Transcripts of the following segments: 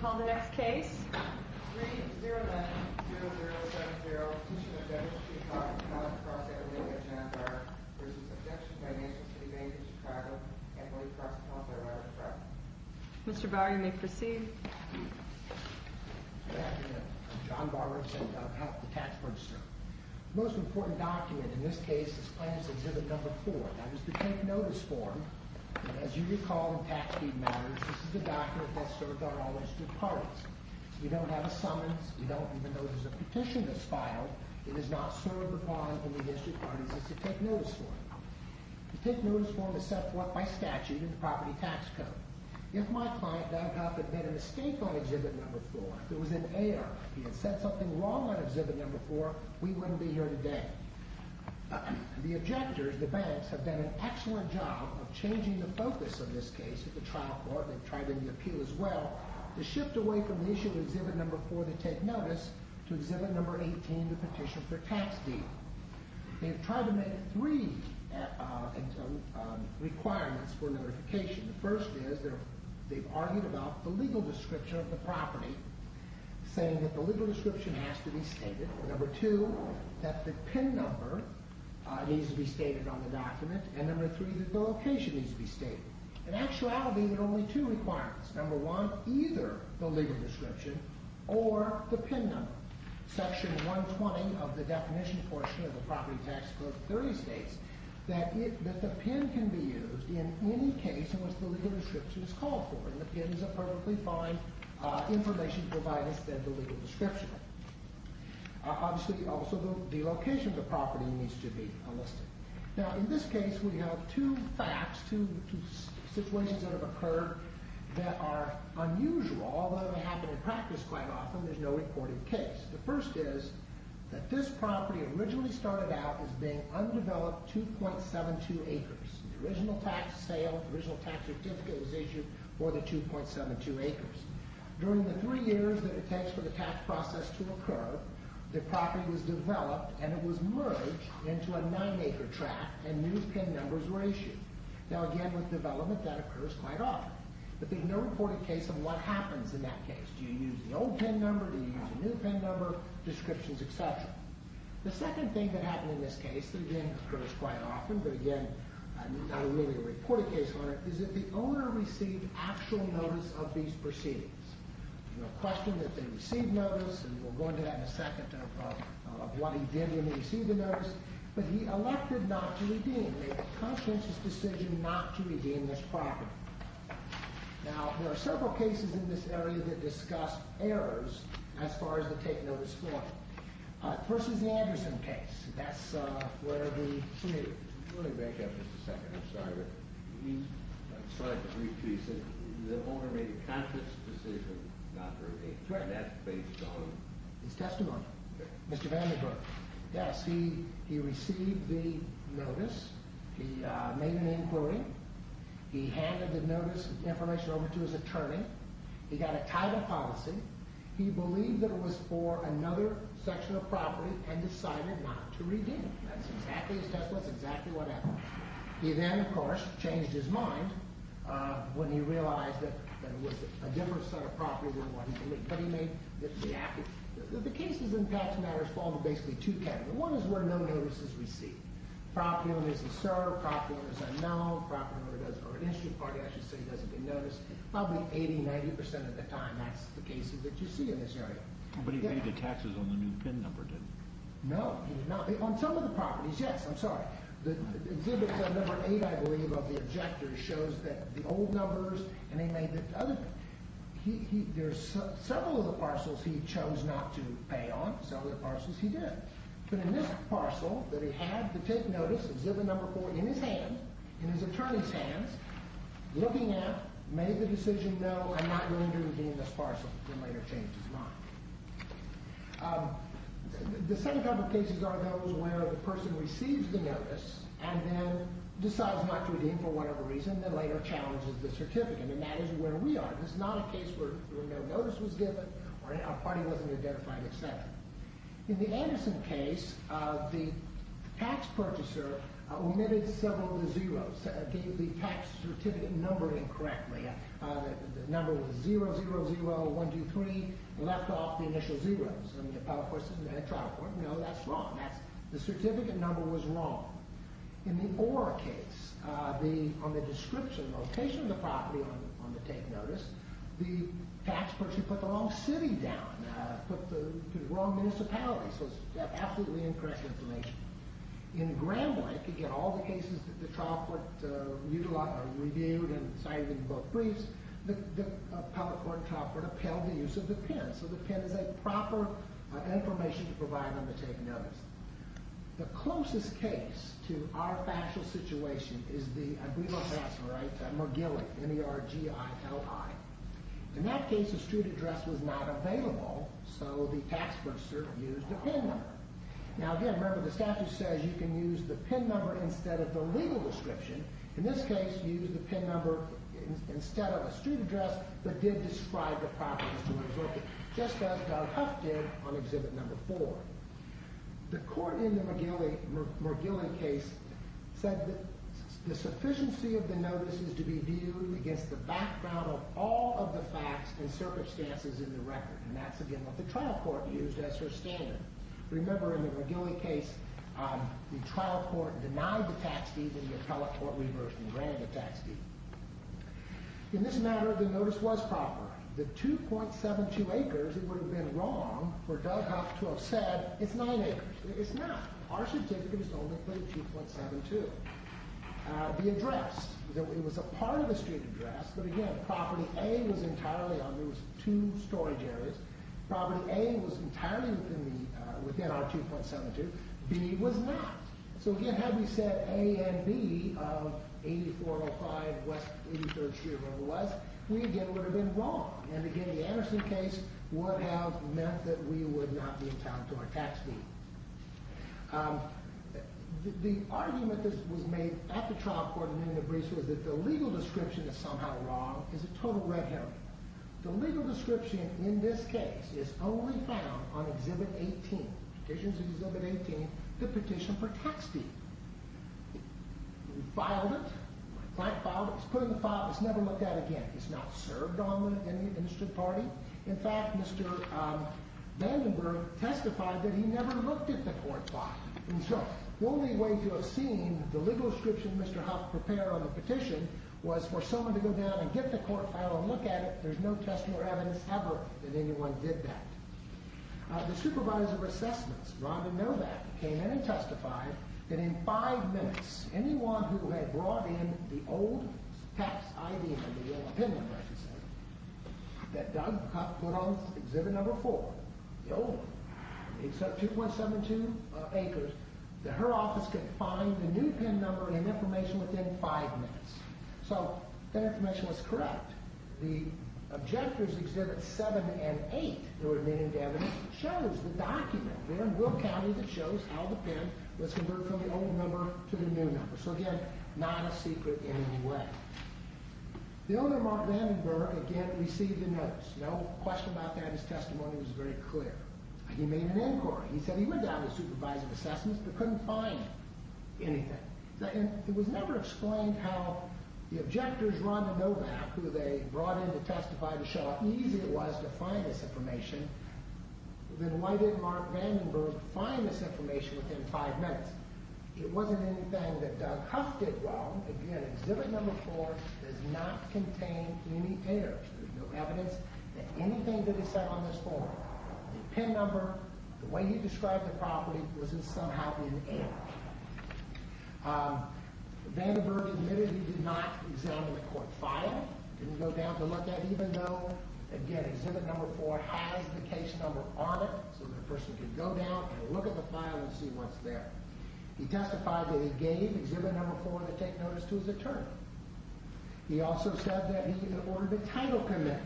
Call the next case. 3-0-9-0-0-7-0 Petition of Deputy Chief Collector of the College of Cross-California, John Bower Vs. Objection by National City Bank of Chicago, Emily Cross-California Waterfront. Mr. Bower, you may proceed. Good afternoon. I'm John Bower, Assistant of Health to the Tax Register. The most important document in this case is Plaintiff's Exhibit Number 4. Now, this is the take notice form. As you recall in tax deed matters, this is the document that served our all district parties. We don't have a summons. We don't, even though there's a petition that's filed, it is not served upon in the district parties as a take notice form. The take notice form is set forth by statute in the property tax code. If my client, Doug Huff, had made a mistake on Exhibit Number 4, if it was an error, he had said something wrong on Exhibit Number 4, we wouldn't be here today. The objectors, the banks, have done an excellent job of changing the focus of this case at the trial court. They've tried in the appeal as well to shift away from the issue of Exhibit Number 4 to take notice to Exhibit Number 18 to petition for tax deed. They've tried to make three requirements for notification. The first is they've argued about the legal description of the property saying that the legal description has to be stated. Number two, that the PIN number needs to be stated on the document. And number three, that the location needs to be stated. In actuality, there are only two requirements. Number one, either the legal description or the PIN number. Section 120 of the definition portion of the property tax code states that the PIN can be used in any case in which the legal description is called for. And the PIN is a perfectly fine information provider than the legal description. Obviously, also the location of the property needs to be listed. Now, in this case, we have two facts two situations that have occurred that are unusual although they happen in practice quite often there's no recorded case. The first is that this property originally started out as being undeveloped 2.72 acres. The original tax sale, the original tax certificate was issued for the 2.72 acres. During the three years that it takes for the tax process to occur, the property was developed and it was merged into a 9-acre tract and new PIN numbers were issued. Now again, with development, that occurs quite often. But there's no reported case of what happens in that case. Do you use the old PIN number? Do you use the new PIN number? Descriptions, etc. The second thing that happened in this case that again occurs quite often, but again not really a reported case on it is that the owner received actual notice of these proceedings. There's no question that they received notice and we'll go into that in a second of what he did when he received the notice but he elected not to redeem a conscientious decision not to redeem this property. Now, there are several cases in this area that discuss errors as far as the take notice form. The first is the Anderson case. That's where he pleaded. Let me back up just a second. I'm sorry. I'm sorry to repeat. The owner made a conscious decision not to redeem that based on his testimony. Mr. Vandenberg. Yes, he received the notice. He made an inquiry. He handed the notice information over to his attorney. He got a title policy. He believed that it was for another section of property and decided not to redeem it. That's exactly his testimony. That's exactly what happened. He then, of course, changed his mind when he realized that it was a different set of property than what he believed. The cases in tax matters fall to basically two categories. One is where no notices are received. Property owners are served. Property owners are known. Property owners are an issue. Probably 80-90% of the time, that's the cases that you see in this area. But he paid the taxes on the new PIN number, didn't he? No. On some of the properties, yes. I'm sorry. Exhibit number 8, I believe, of the objectors shows the old numbers. There's several of the parcels he chose not to pay on. Several of the parcels he did. But in this parcel that he had to take notice, exhibit number 4, in his hand, in his attorney's hands, looking at, made the decision, no, I'm not going to redeem this parcel, and later changed his mind. The second type of cases are those where the person receives the notice and then challenges the certificate. And that is where we are. This is not a case where no notice was given, or our party wasn't identified, etc. In the Anderson case, the tax purchaser omitted several of the zeros. The tax certificate numbered incorrectly. The number 0-0-0-1-2-3 left off the initial zeros. And the trial court, no, that's wrong. The certificate number was wrong. In the Orr case, on the description, location of the property on the take notice, the tax person put the wrong city down, put the wrong municipality, so it's absolutely incorrect information. In Gramlich, again, all the cases that the trial court reviewed and cited in both briefs, the public court trial court upheld the use of the PIN. So the PIN is a proper information to provide on the take notice. The closest case to our factual situation is the, I believe I'm fast, right, McGillic, M-E-R-G-I-L-I. In that case, a street address was not available, so the tax purchaser used the PIN number. Now, again, remember the statute says you can use the PIN number instead of the legal description. In this case, use the PIN number instead of a street address, but did describe the property as to what it's worth, just as Doug Huff did on exhibit number four. The court in the McGillic case said the sufficiency of the notice is to be viewed against the background of all of the facts and circumstances in the record, and that's, again, what the trial court used as her standard. Remember, in the McGillic case, the trial court denied the tax deed and the appellate court reversed and granted the tax deed. In this matter, the notice was proper. The 2.72 acres that would have been wrong for Doug Huff to have said it's nine acres. It's not. Our certificate is only for the 2.72. The address, it was a part of the street address, but again, property A was entirely on those two storage areas. Property A was entirely within our 2.72. B was not. So, again, had we said A and B of 8405 83rd Street over West, we, again, would have been wrong. And, again, the Anderson case would have meant that we would not be entitled to our tax deed. The argument that was made at the trial court in Indianapolis was that the legal description is somehow wrong. It's a total red herring. The legal description in this case is only found on Exhibit 18. Petitions of Exhibit 18, the petition for tax deed. We filed it. It's put in the file. It's never looked at again. It's not served on the Institute Party. In fact, Mr. Vandenberg testified that he never looked at the court file. And so, the only way to have seen the legal description Mr. Huff prepared on the petition was for someone to go down and get the court file and look at it. There's no testimony or evidence ever that anyone did that. The supervisor of assessments, Rhonda Novak, came in and testified that in five minutes, anyone who had brought in the old tax ID number, the old PIN number, I should say, that Doug Huff put on Exhibit Number 4, the old one, except 2172 Acres, that her office could find the new PIN number and information within five minutes. So, that information was correct. The objectors, Exhibit 7 and 8, there were many evidences, chose the document there in Will County that shows how the PIN was converted from the old number to the new number. So again, not a secret in any way. The owner, Mark Vandenberg, again, received a notice. No question about that. His testimony was very clear. He made an inquiry. He said he went down to the supervisor of assessments but couldn't find anything. It was never explained how the objectors, Rhonda Novak, who they brought in to testify to show how easy it was to find this information, then why did Mark Vandenberg find this information within five minutes? It wasn't anything that Doug Huff did wrong. Again, Exhibit Number 4 does not contain any errors. There's no evidence that anything that is said on this form, the PIN number, the way he described the property, was somehow in error. Vandenberg admitted he did not examine the court file. He didn't go down to look at it, even though, again, Exhibit Number 4 has the case number on it, so the person can go down and look at the file and see what's there. He testified that he gave Exhibit Number 4 to take notice to his attorney. He also said that he had ordered a title commitment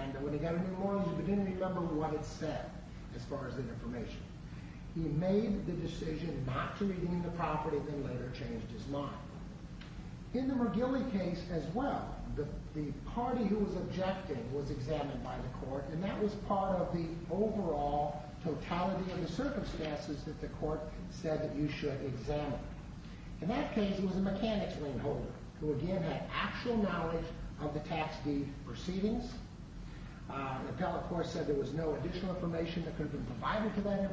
and when he got a new mortgage, he didn't remember what it said, as far as the information. He made the decision not to redeem the property and then later changed his mind. In the McGilley case as well, the party who was objecting was examined by the court and that was part of the overall totality of the circumstances that the court said that you should examine. In that case, it was a mechanics ring holder, who again had actual knowledge of the tax deed proceedings. The telecourse said there was no additional information that could have been provided to that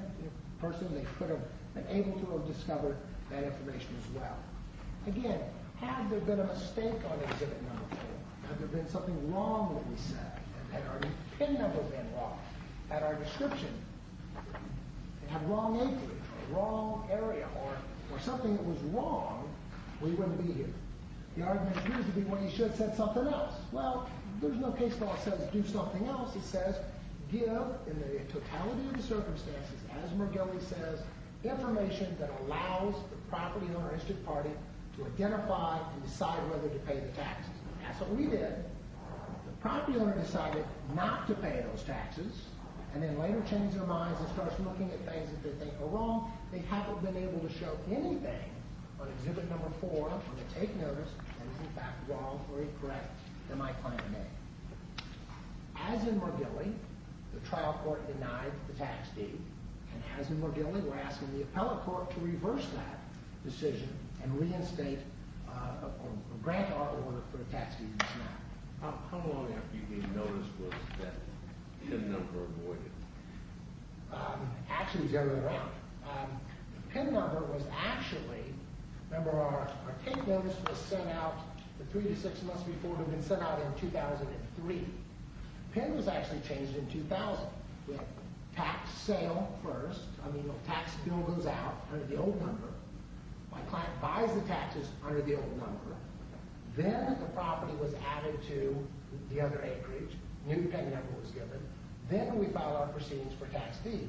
person. They could have been able to have discovered that information as well. Again, had there been a mistake on Exhibit Number 4, had there been something wrong that he said, had our PIN number been wrong, had our description have wrong acreage or wrong area or something that was wrong, we wouldn't be here. The argument used to be, well, you should have said something else. Well, there's no case law that says do something else. It says give in the totality of the circumstances, as McGilley says, information that allows the property owner and district party to identify and decide whether to pay the taxes. That's what we did. The property owner decided not to pay those taxes, and then later changed their minds and starts looking at things that they think are wrong. They haven't been able to show anything on Exhibit Number 4 when they take notice that is in fact wrong or incorrect in my planning. As in McGilley, the trial court denied the tax deed, and as in McGilley, we're asking the appellate court to reverse that decision and reinstate or grant our order for the tax deed. How long after you gave notice was that PIN number avoided? Actually, it was the other way around. The PIN number was actually, remember our take notice was sent out three to six months before it had been sent out in 2003. The PIN was actually changed in 2000 with tax sale first, I mean the tax bill goes out under the old number. My client buys the taxes under the old number. Then the property was added to the other acreage. New PIN number was given. Then we file our proceedings for tax deed.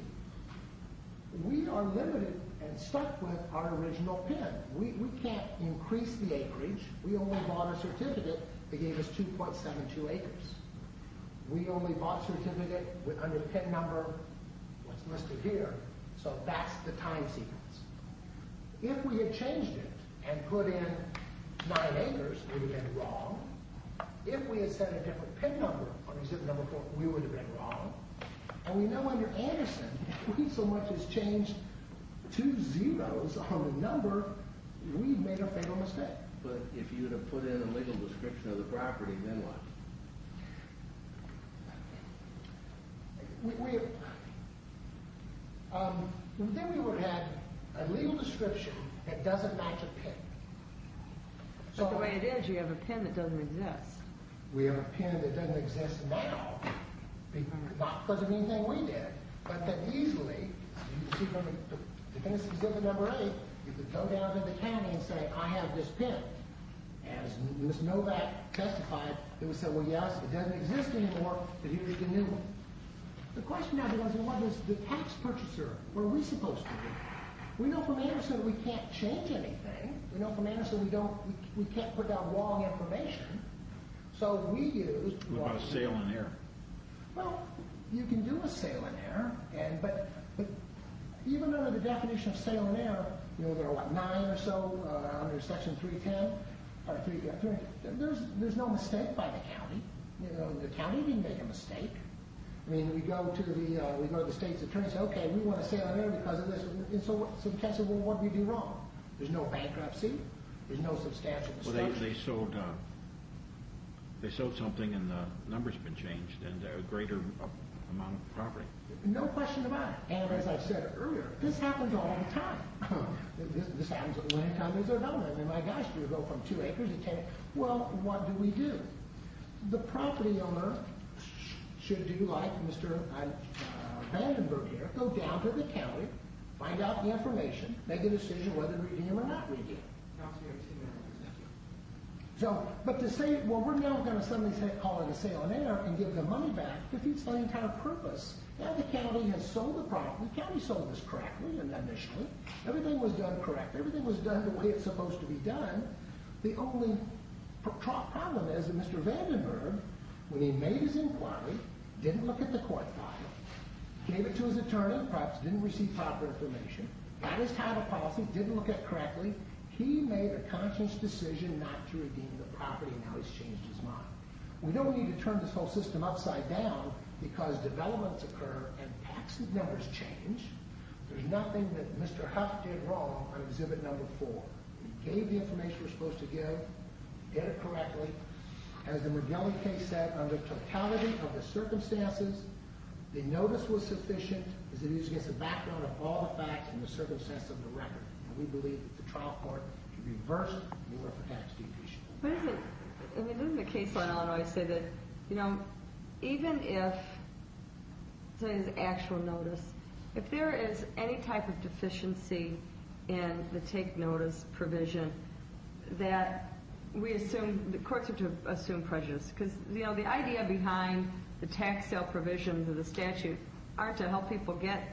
We are limited and stuck with our original PIN. We can't increase the acreage. We only bought a certificate that gave us 2.72 acres. We only bought a certificate under the PIN number that's listed here. So that's the time sequence. If we had changed it and put in 9 acres we would have been wrong. If we had sent a different PIN number we would have been wrong. And we know under Anderson we so much as changed two zeros on the number we made a fatal mistake. But if you would have put in a legal description of the property, then what? Then we would have had a legal mistake. But the way it is, you have a PIN that doesn't exist. We have a PIN that doesn't exist now. Not because of anything we did. But that easily to finish exhibit number 8 you could go down to the county and say I have this PIN. As Ms. Novak testified they would say well yes, it doesn't exist anymore but here's the new one. The question now is what does the tax purchaser what are we supposed to do? We know from Anderson we can't change anything. We know from Anderson we don't we can't put down wrong information. So we use What about a sale in error? Well, you can do a sale in error but even under the definition of sale in error there are what, 9 or so under section 310 there's no mistake by the county. The county didn't make a mistake. We go to the state's attorney and say OK, we want a sale in error because of this and so what do we do wrong? There's no bankruptcy. There's no substantial destruction. They sold something and the number's been changed and a greater amount of property. No question about it. And as I said earlier this happens all the time. This happens all the time. My gosh, you go from 2 acres to 10 acres. Well, what do we do? The property owner should do like Mr. Vandenberg here go down to the county find out the information, make a decision whether to redeem it or not redeem it. Thank you. But to say, well we're now going to call it a sale in error and give the money back defeats the entire purpose. Now the county has sold the property. The county sold this correctly initially. Everything was done correctly. Everything was done the way it's supposed to be done. The only problem is that Mr. Vandenberg when he made his inquiry didn't look at the court file gave it to his attorney didn't receive proper information didn't look at it correctly he made a conscious decision not to redeem the property and now he's changed his mind. We don't need to turn this whole system upside down because developments occur and taxes numbers change there's nothing that Mr. Huff did wrong on exhibit number 4. He gave the information we're supposed to give he did it correctly as the Modelli case said under totality of the circumstances the notice was sufficient as it is against the background of all the facts and the circumstances of the record and we believe that the trial court can reverse the Orphan Tax Deficit. But isn't the case in Illinois say that even if there's actual notice if there is any type of deficiency in the take notice provision that we assume the courts are to assume prejudice because the idea behind the tax sale provisions of the statute aren't to help people get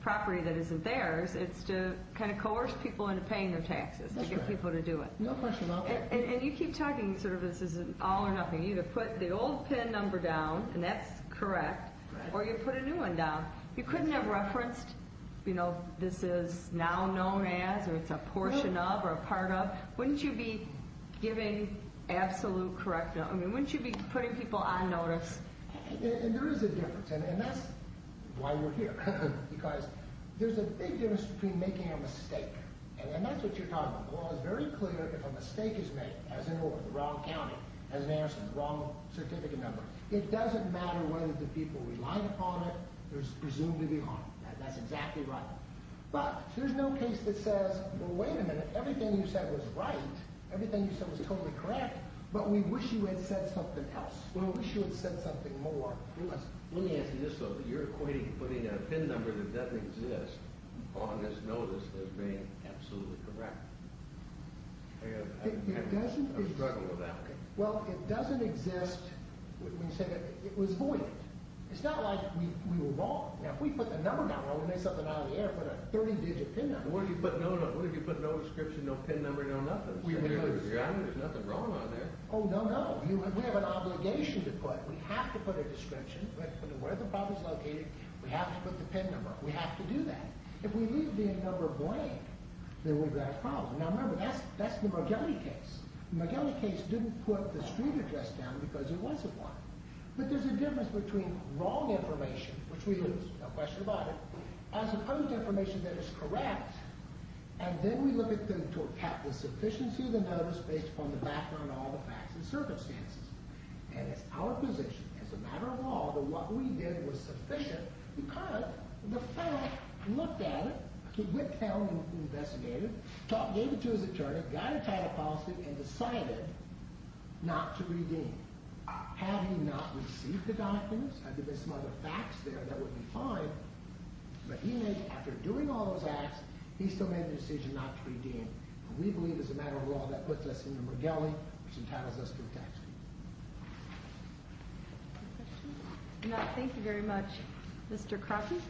property that isn't theirs it's to kind of coerce people into paying their taxes to get people to do it. And you keep talking sort of this is all or nothing you either put the old PIN number down and that's correct or you put a new one down you couldn't have referenced you know this is now known as or it's a portion of or a part of wouldn't you be giving absolute correctness wouldn't you be putting people on notice And there is a difference and that's why we're here because there's a big difference between making a mistake and that's what you're talking about the law is very clear if a mistake is made as in the wrong county as in the wrong certificate number it doesn't matter whether the people relied upon it there's presumed to be harm that's exactly right but there's no case that says well wait a minute everything you said was right everything you said was totally correct but we wish you had said something else we wish you had said something more let me answer this though you're equating putting a PIN number that doesn't exist on this notice as being absolutely correct it doesn't exist well it doesn't exist when you say that it was void it's not like we were wrong now if we put the number down and we made something out of the air put a 30 digit PIN number what if you put no description, no PIN number, no nothing there's nothing wrong on there oh no no we have an obligation to put we have to put a description where the problem is located we have to put the PIN number we have to do that if we leave the number blank then we've got a problem now remember that's the McGillicuddy case the McGillicuddy case didn't put the street address down because it wasn't one but there's a difference between wrong information which we lose, no question about it as opposed to information that is correct and then we look at them to attack the sufficiency of the notice based upon the background and all the facts and circumstances and it's our position, as a matter of law that what we did was sufficient because the fact looked at it it went down and investigated gave it to his attorney got a title positive and decided not to redeem had he not received the documents had there been some other facts there that would be fine but he made, after doing all those acts he still made the decision not to redeem and we believe as a matter of law that puts us in the McGillicuddy which entitles us to a tax cut Any questions? No, thank you very much Mr. Crockett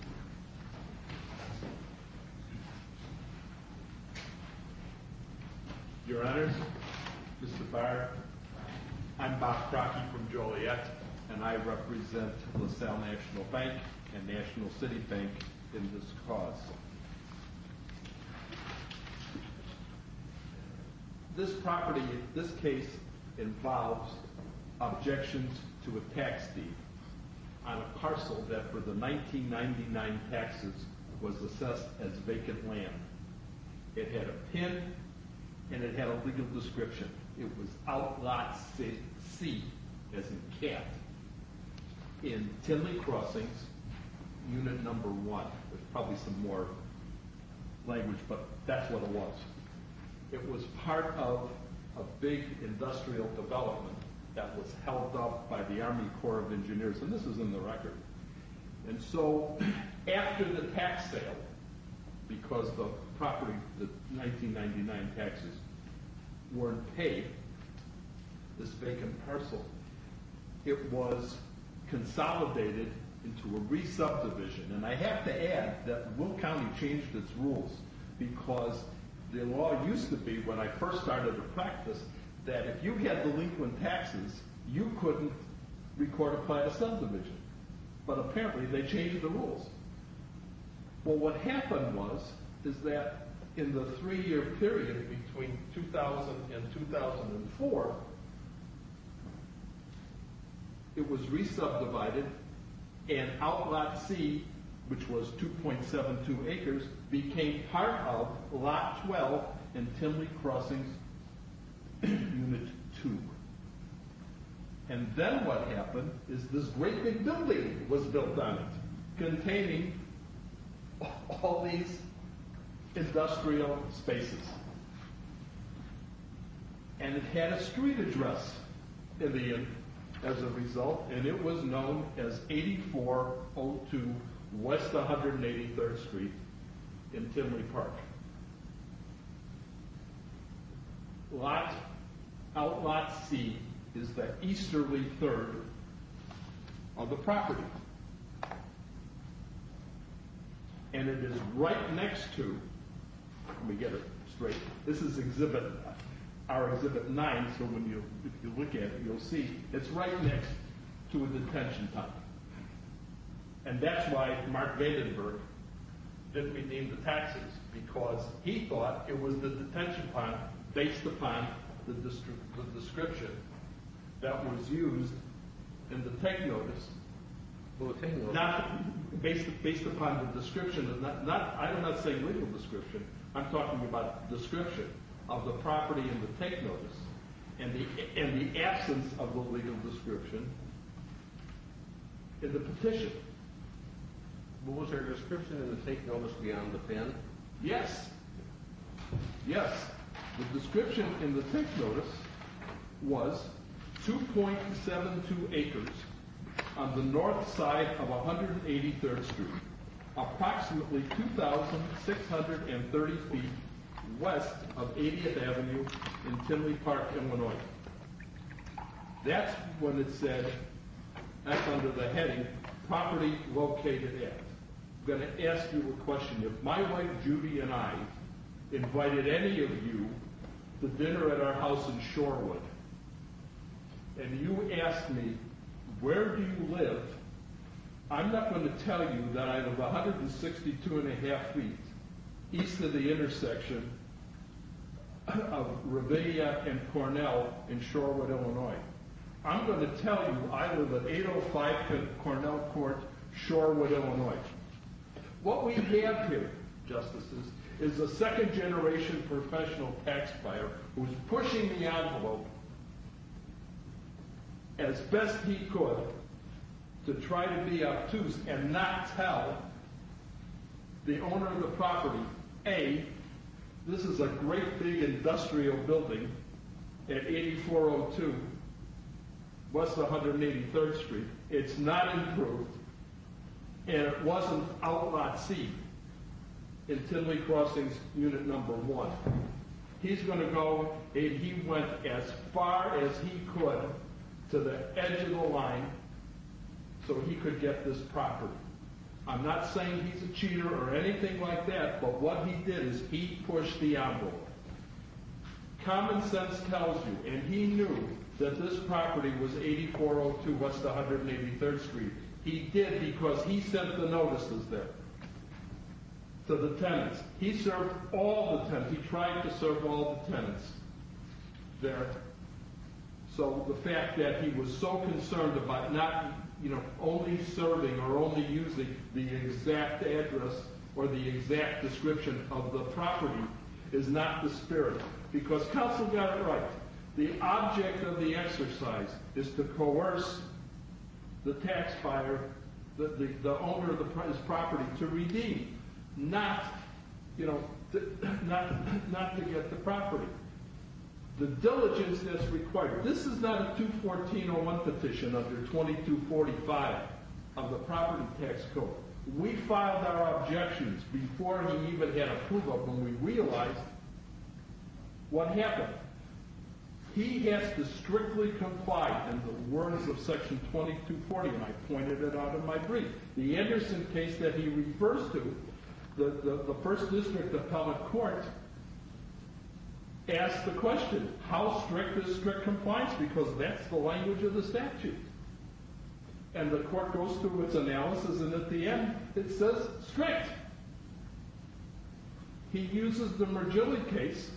Your Honor Mr. Barr I'm Bob Crockett from Joliet and I represent LaSalle National Bank and National City Bank in this cause This property, this case involves objections to a tax deed on a parcel that for the 1999 taxes was assessed as vacant land it had a pin and it had a legal description it was outlawed C as in cat in Tinley Crossings unit number 1 there's probably some more language but that's what it was it was part of a big industrial development that was held up by the Army Corps of Engineers and this is in the record and so after the tax sale because the property the 1999 taxes weren't paid this vacant parcel it was consolidated into a resubdivision and I have to add that Will County changed its rules because the law used to be when I first started the practice that if you had delinquent taxes you couldn't recortify the subdivision but apparently they changed the rules well what happened was is that in the 3 year period between 2000 and 2004 it was resubdivided and outlawed C which was 2.72 acres became part of lot 12 in Tinley Crossings unit 2 and then what happened is this great big building was built on it containing all these industrial spaces and it had a street address in the end as a result and it was known as 8402 West 183rd Street in Tinley Park lot outlaw C is the easterly third of the property and it is right next to let me get it straight this is exhibit our exhibit 9 so if you look at it you'll see it's right next to a detention pond and that's why Mark Vandenberg didn't redeem the taxes because he thought it was the detention pond based upon the description that was used in the take notice based upon the description I'm not saying legal description I'm talking about description of the property in the take notice and the absence of the legal description in the petition was there a description in the take notice beyond the pen yes yes the description in the take notice was 2.72 acres on the north side of 183rd Street approximately 2630 feet west of 80th Avenue in Tinley Park Illinois that's when it said that's under the heading property located at I'm going to ask you a question if my wife Judy and I invited any of you to dinner at our house in Shorewood and you asked me where do you live? I'm not going to tell you that I live 162 and a half feet east of the intersection of Ravinia and Cornell in Shorewood, Illinois I'm going to tell you I live at 805 Cornell Court, Shorewood, Illinois what we have here justices is a second generation professional tax buyer who is pushing the envelope as best he could to try to be obtuse and not tell the owner of the property A, this is a great big industrial building at 8402 west of 183rd Street, it's not improved and it wasn't outlawed seat in Tidley Crossings Unit 1. He's going to go and he went as far as he could to the edge of the line so he could get this property I'm not saying he's a cheater or anything like that but what he did is he pushed the envelope common sense tells you and he knew that this property was 8402 west of 183rd Street he did because he sent the notices there to the tenants, he served all the tenants, he tried to serve all the tenants so the fact that he was so concerned about not only serving or only using the exact address or the exact description of the property is not the spirit because Counsel got it right, the object of the exercise is to coerce the tax buyer, the owner of the property to redeem, not you know, not to get the property the diligence that's required this is not a 21401 petition under 2245 of the property tax code we filed our objections before he even had approval when we realized what happened he has to strictly comply in the words of section 2240 and I pointed it out in my brief the Anderson case that he refers to the first district appellate court asked the question how strict is strict compliance because that's the language of the statute and the court goes through its analysis and at the end it says strict he uses the Mergilli case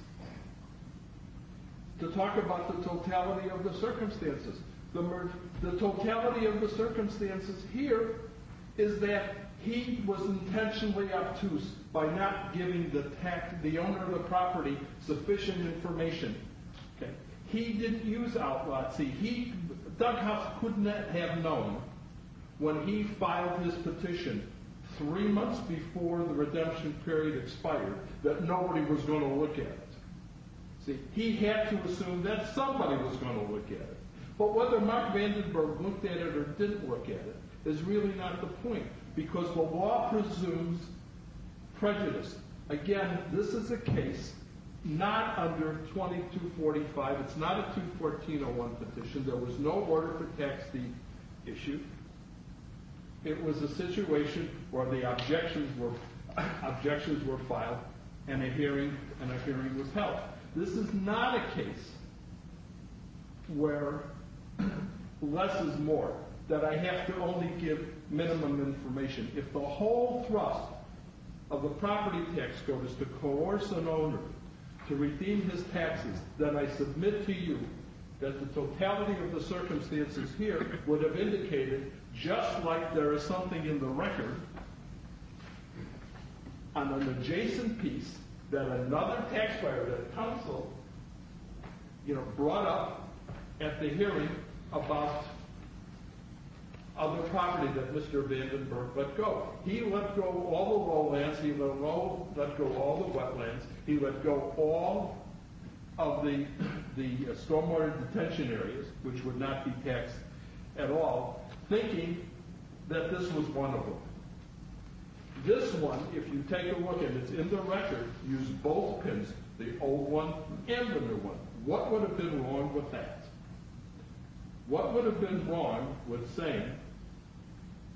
to talk about the totality of the circumstances the totality of the circumstances here is that he was intentionally obtuse by not giving the owner of the property sufficient information he didn't use outlaw see he, Dughouse couldn't have known when he filed his petition three months before the redemption period expired that nobody was going to look at he had to assume that somebody was going to look at it but whether Mark Vandenberg looked at it or didn't look at it is really not the point because the law presumes prejudice again this is a case not under 2245 it's not a 214-01 petition there was no order for tax the issue it was a situation where the objections were objections were filed and a hearing was held this is not a case where less is more that I have to only give minimum information if the whole thrust of a property tax code is to coerce an owner to redeem his taxes then I submit to you that the totality of the circumstances here would have indicated just like there is something in the record on an adjacent piece that another taxpayer that counseled brought up at the hearing about other property that Mr. Vandenberg let go he let go all the lowlands he let go all the wetlands he let go all of the stormwater detention areas which would not be taxed at all thinking that this was one of them this one, if you take a look and it's in the record, use both pins the old one and the new one what would have been wrong with that? what would have been wrong with saying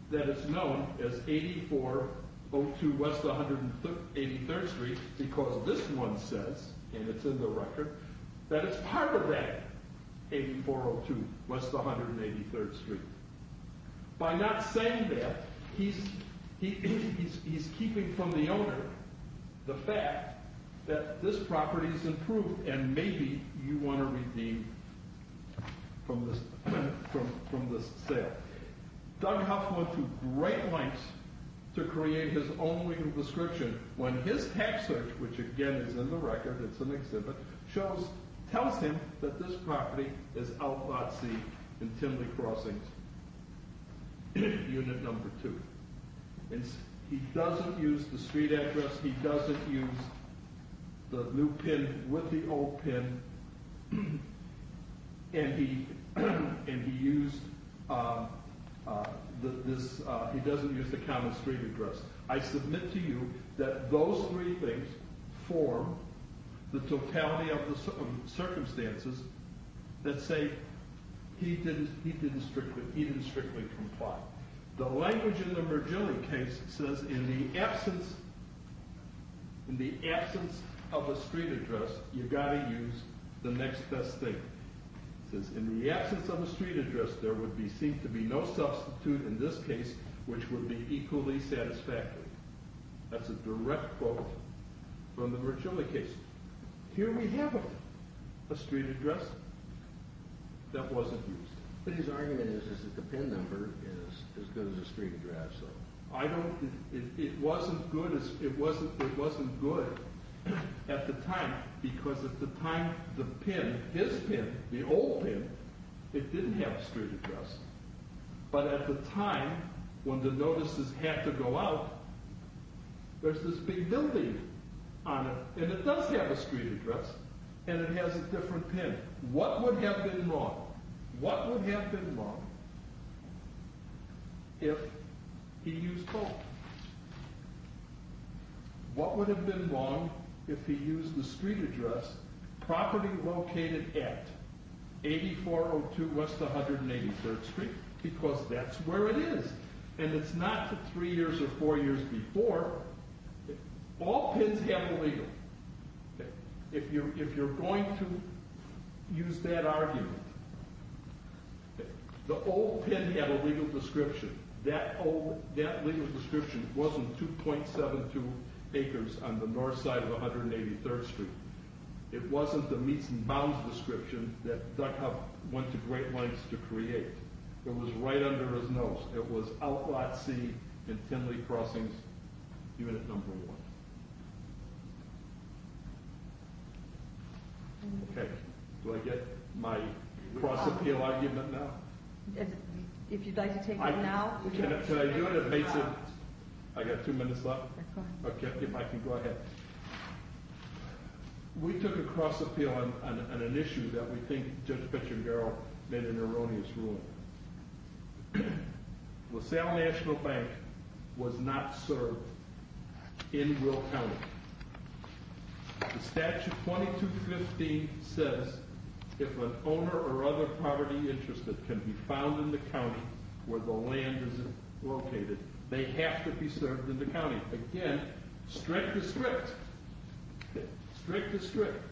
that it's known as 8402 West 183rd Street because this one says and it's in the record that it's part of that 8402 West 183rd Street by not saying that he's keeping from the owner the fact that this property is in proof and maybe you want to redeem from this sale Doug Huff went through great lengths to create his own legal description when his tax search which again is in the record, it's an exhibit tells him that this property is out at sea in Timley Crossings unit number 2 and he doesn't use the street address he doesn't use the new pin with the old pin and he and he used he doesn't use the common street address. I submit to you that those three things form the totality of the circumstances that say he didn't strictly comply. The language in the Mergilli case says in the absence in the absence of a street address you've got to use the next best thing it says in the absence of a street address there would seem to be no substitute in this case which would be equally satisfactory that's a direct quote from the Mergilli case here we have it a street address that wasn't used but his argument is that the pin number is as good as a street address it wasn't good it wasn't good at the time because at the time the pin his pin, the old pin it didn't have a street address but at the time when the notices had to go out there's this big building and it does have a street address and it has a different pin what would have been wrong what would have been wrong if he used both what would have been wrong if he used the street address property located at 8402 West 183rd Street because that's where it is and it's not three years or four years before all pins have a legal if you're going to use that argument the old pin had a legal description that legal description wasn't 2.72 acres on the north side of 183rd Street, it wasn't the Meats and Bounds description that Duckhub went to great lengths to create, it was right under his nose, it was Outlot C and Tenley Crossings even at number one do I get my cross appeal argument now? if you'd like to take it now can I do it at Meats and I got two minutes left if I can go ahead we took a cross appeal on an issue that we think Judge Pettengerl made an erroneous ruling LaSalle National Bank was not served in Will County the statute 2215 says if an owner or other poverty interested can be found in the county where the land is located, they have to be served in the county, again strict is strict strict is strict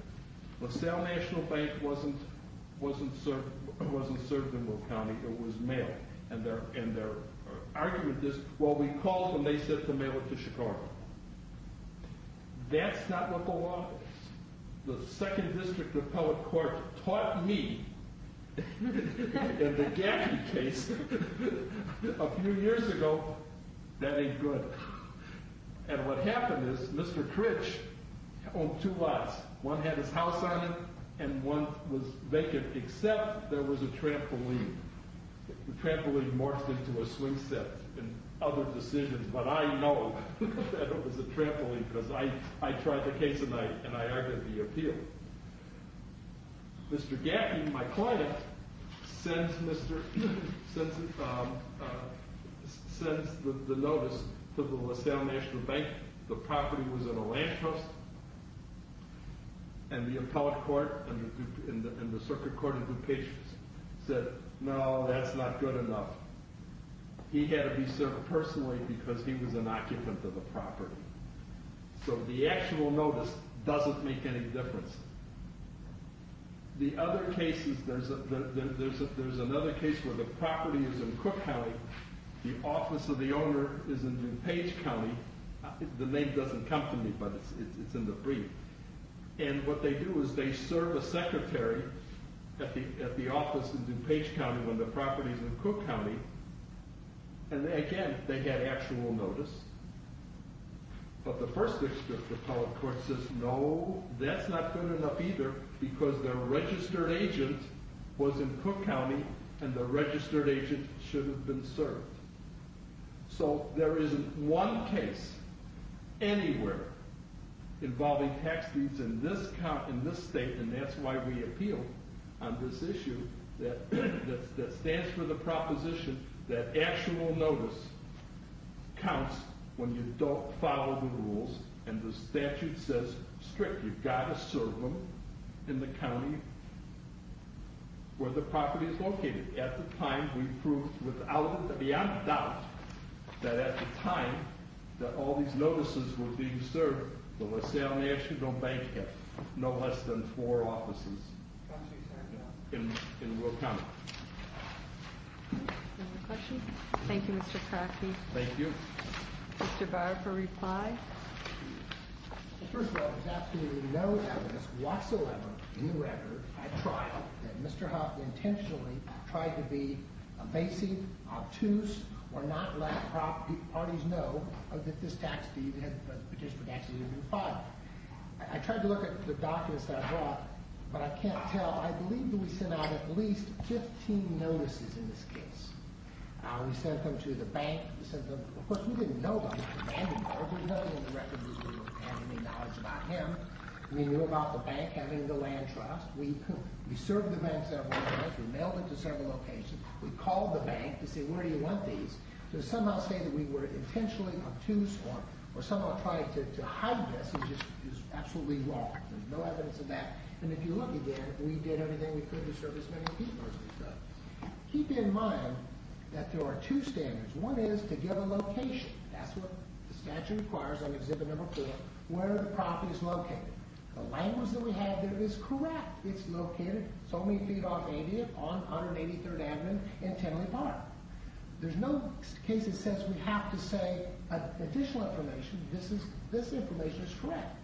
LaSalle National Bank wasn't served in Will County, it was mailed and their argument is well we called and they said to mail it to Chicago that's not what the law the second district appellate court taught me in the Gaffney case a few years ago, that ain't good and what happened is Mr. Critch owned two lots, one had his house on it and one was vacant except there was a trampoline the trampoline morphed into a swing set and other decisions but I know that it was a trampoline because I tried the case and I argued the appeal Mr. Gaffney, my client sends the notice to the LaSalle National Bank, the property was in a land trust and the appellate court and the circuit court said no that's not good enough he had to be served personally because he was an occupant of the property so the actual notice doesn't make any difference the other cases, there's another case where the property is in Cook County, the office of the owner is in DuPage County the name doesn't come to me but it's in the brief and what they do is they serve a secretary at the office in DuPage County when the property is in Cook County and again they get actual notice but the first appellate court says no that's not good enough either because the registered agent was in Cook County and the registered agent should have been served so there isn't one case anywhere involving tax deeds in this state and that's why we appeal on this issue that stands for the proposition that actual notice counts when you don't follow the rules and the statute says strict, you've got to serve them in the county where the property is located. At the time we proved without a doubt that at the time that all these notices were being served the LaSalle National Bank has no less than four offices in Will County Thank you Mr. Crockett Mr. Barr for reply First of all there's absolutely no evidence whatsoever in the record at trial that Mr. Hoffman intentionally tried to be evasive obtuse or not let the parties know that this tax deed had been filed. I tried to look at the documents that I brought but I can't tell. I believe that we sent out at least 15 notices in this case. We sent them to the bank of course we didn't know about it we knew about the bank having the land trust we served the bank several times we called the bank to say where do you want these to somehow say that we were intentionally obtuse or somehow trying to hide this is absolutely wrong there's no evidence of that and if you look again we did everything we could to serve as many people as we could keep in mind that there are two standards one is to give a location that's what the statute requires on exhibit number four where the property is located. The language that we have there is correct. It's located so many feet off Avia on 183rd Avenue in Tenley Park there's no case that says we have to say additional information. This information is correct.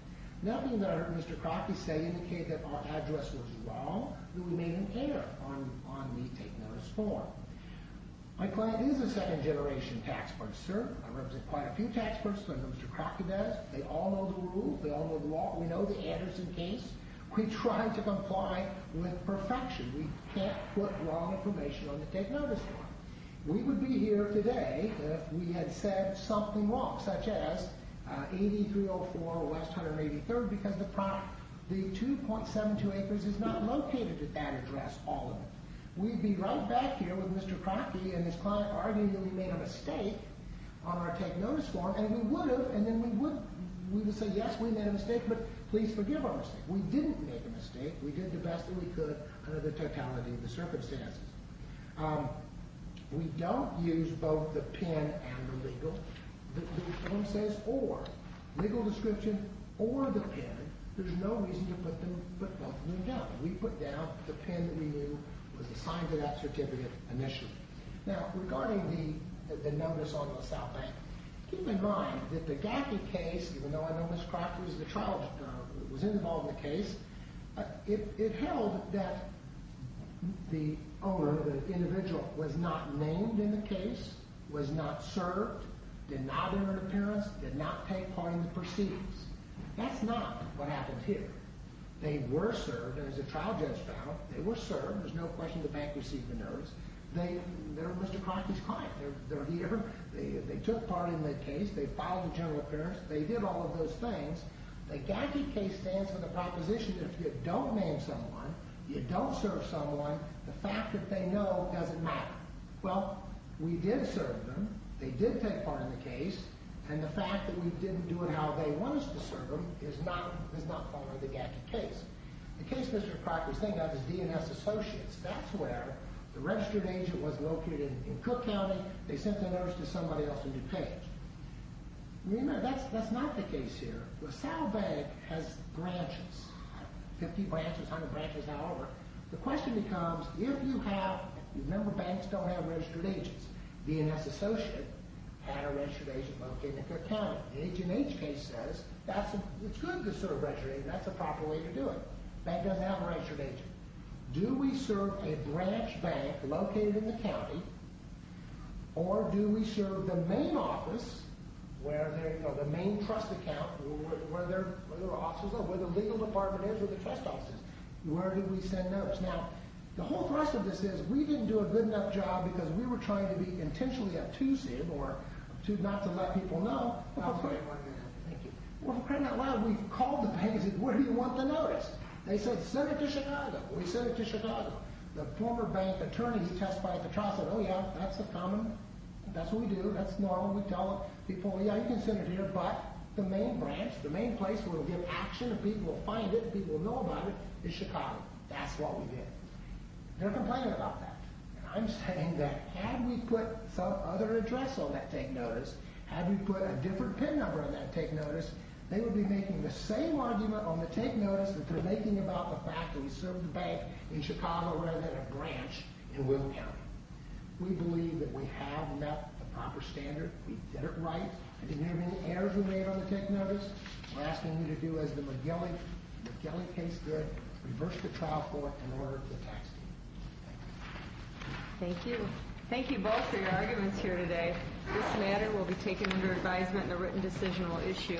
Nothing that I heard Mr. Crockett say indicate that our address was wrong. We may even care on the take notice form my client is a second generation tax person I represent quite a few tax persons like Mr. Crockett does they all know the rules we know the Anderson case we try to comply with perfection. We can't put wrong information on the take notice form we would be here today if we had said something wrong such as 8304 West 183rd because the 2.72 acres is not located at that address all of it. We'd be right back here with Mr. Crockett and his client arguing that we made a mistake on our take notice form and we would have and then we would say yes we made a mistake but please forgive our mistake. We didn't make a mistake. We did the best that we could under the totality of the circumstances We don't use both the PIN and the legal the form says or legal description or the PIN there's no reason to put both of them down we put down the PIN that we knew was assigned to that certificate initially. Now regarding the notice on the South Bank keep in mind that the Gaffney case even though I know Mr. Crockett was involved in the case it held that the owner, the individual was not named in the case was not served did not enter an appearance, did not take part in the proceedings. That's not what happened here. They were served as a trial judge found they were served, there's no question the bank received the notice. They're Mr. Crockett's client. They're here they took part in the case, they filed a general appearance, they did all of those things The Gaffney case stands for the proposition that if you don't name someone you don't serve someone the fact that they know doesn't matter Well, we did serve them, they did take part in the case and the fact that we didn't do it how they wanted us to serve them is not part of the Gaffney case The case Mr. Crockett was thinking of is DNS Associates, that's where the registered agent was located in Cook County, they sent the notice to somebody else in DuPage Remember, that's not the case here. LaSalle Bank has branches 50 branches, 100 branches, however the question becomes, if you have remember banks don't have registered agents, DNS Associates had a registered agent located in Cook County. The H&H case says it's good to serve registered agents that's a proper way to do it. Bank doesn't have a registered agent. Do we serve a branch bank located in the county or do we serve the main office or the main trust account where their offices are where the legal department is, where the trust office is where do we send notes? Now the whole thrust of this is, we didn't do a good enough job because we were trying to be intentionally obtusive or not to let people know Well, for crying out loud we called DuPage and said, where do you want the notice? They said, send it to Chicago We sent it to Chicago. The former bank attorney testified at the trial said, oh yeah that's a common, that's what we do that's normal, we tell people, yeah you can send it here, but the main branch the main place where we give action and people will find it and people will know about it is Chicago. That's what we did They're complaining about that I'm saying that had we put some other address on that take notice had we put a different PIN number on that take notice, they would be making the same argument on the take notice that they're making about the fact that we serve the bank in Chicago rather than a branch in William County We believe that we have met the proper standard, we did it right I didn't have any errors we made on the take notice We're asking you to do as the McGillicay case did reverse the trial court and order the tax deductions Thank you Thank you. Thank you both for your arguments here today. This matter will be taken under advisement and a written decision will issue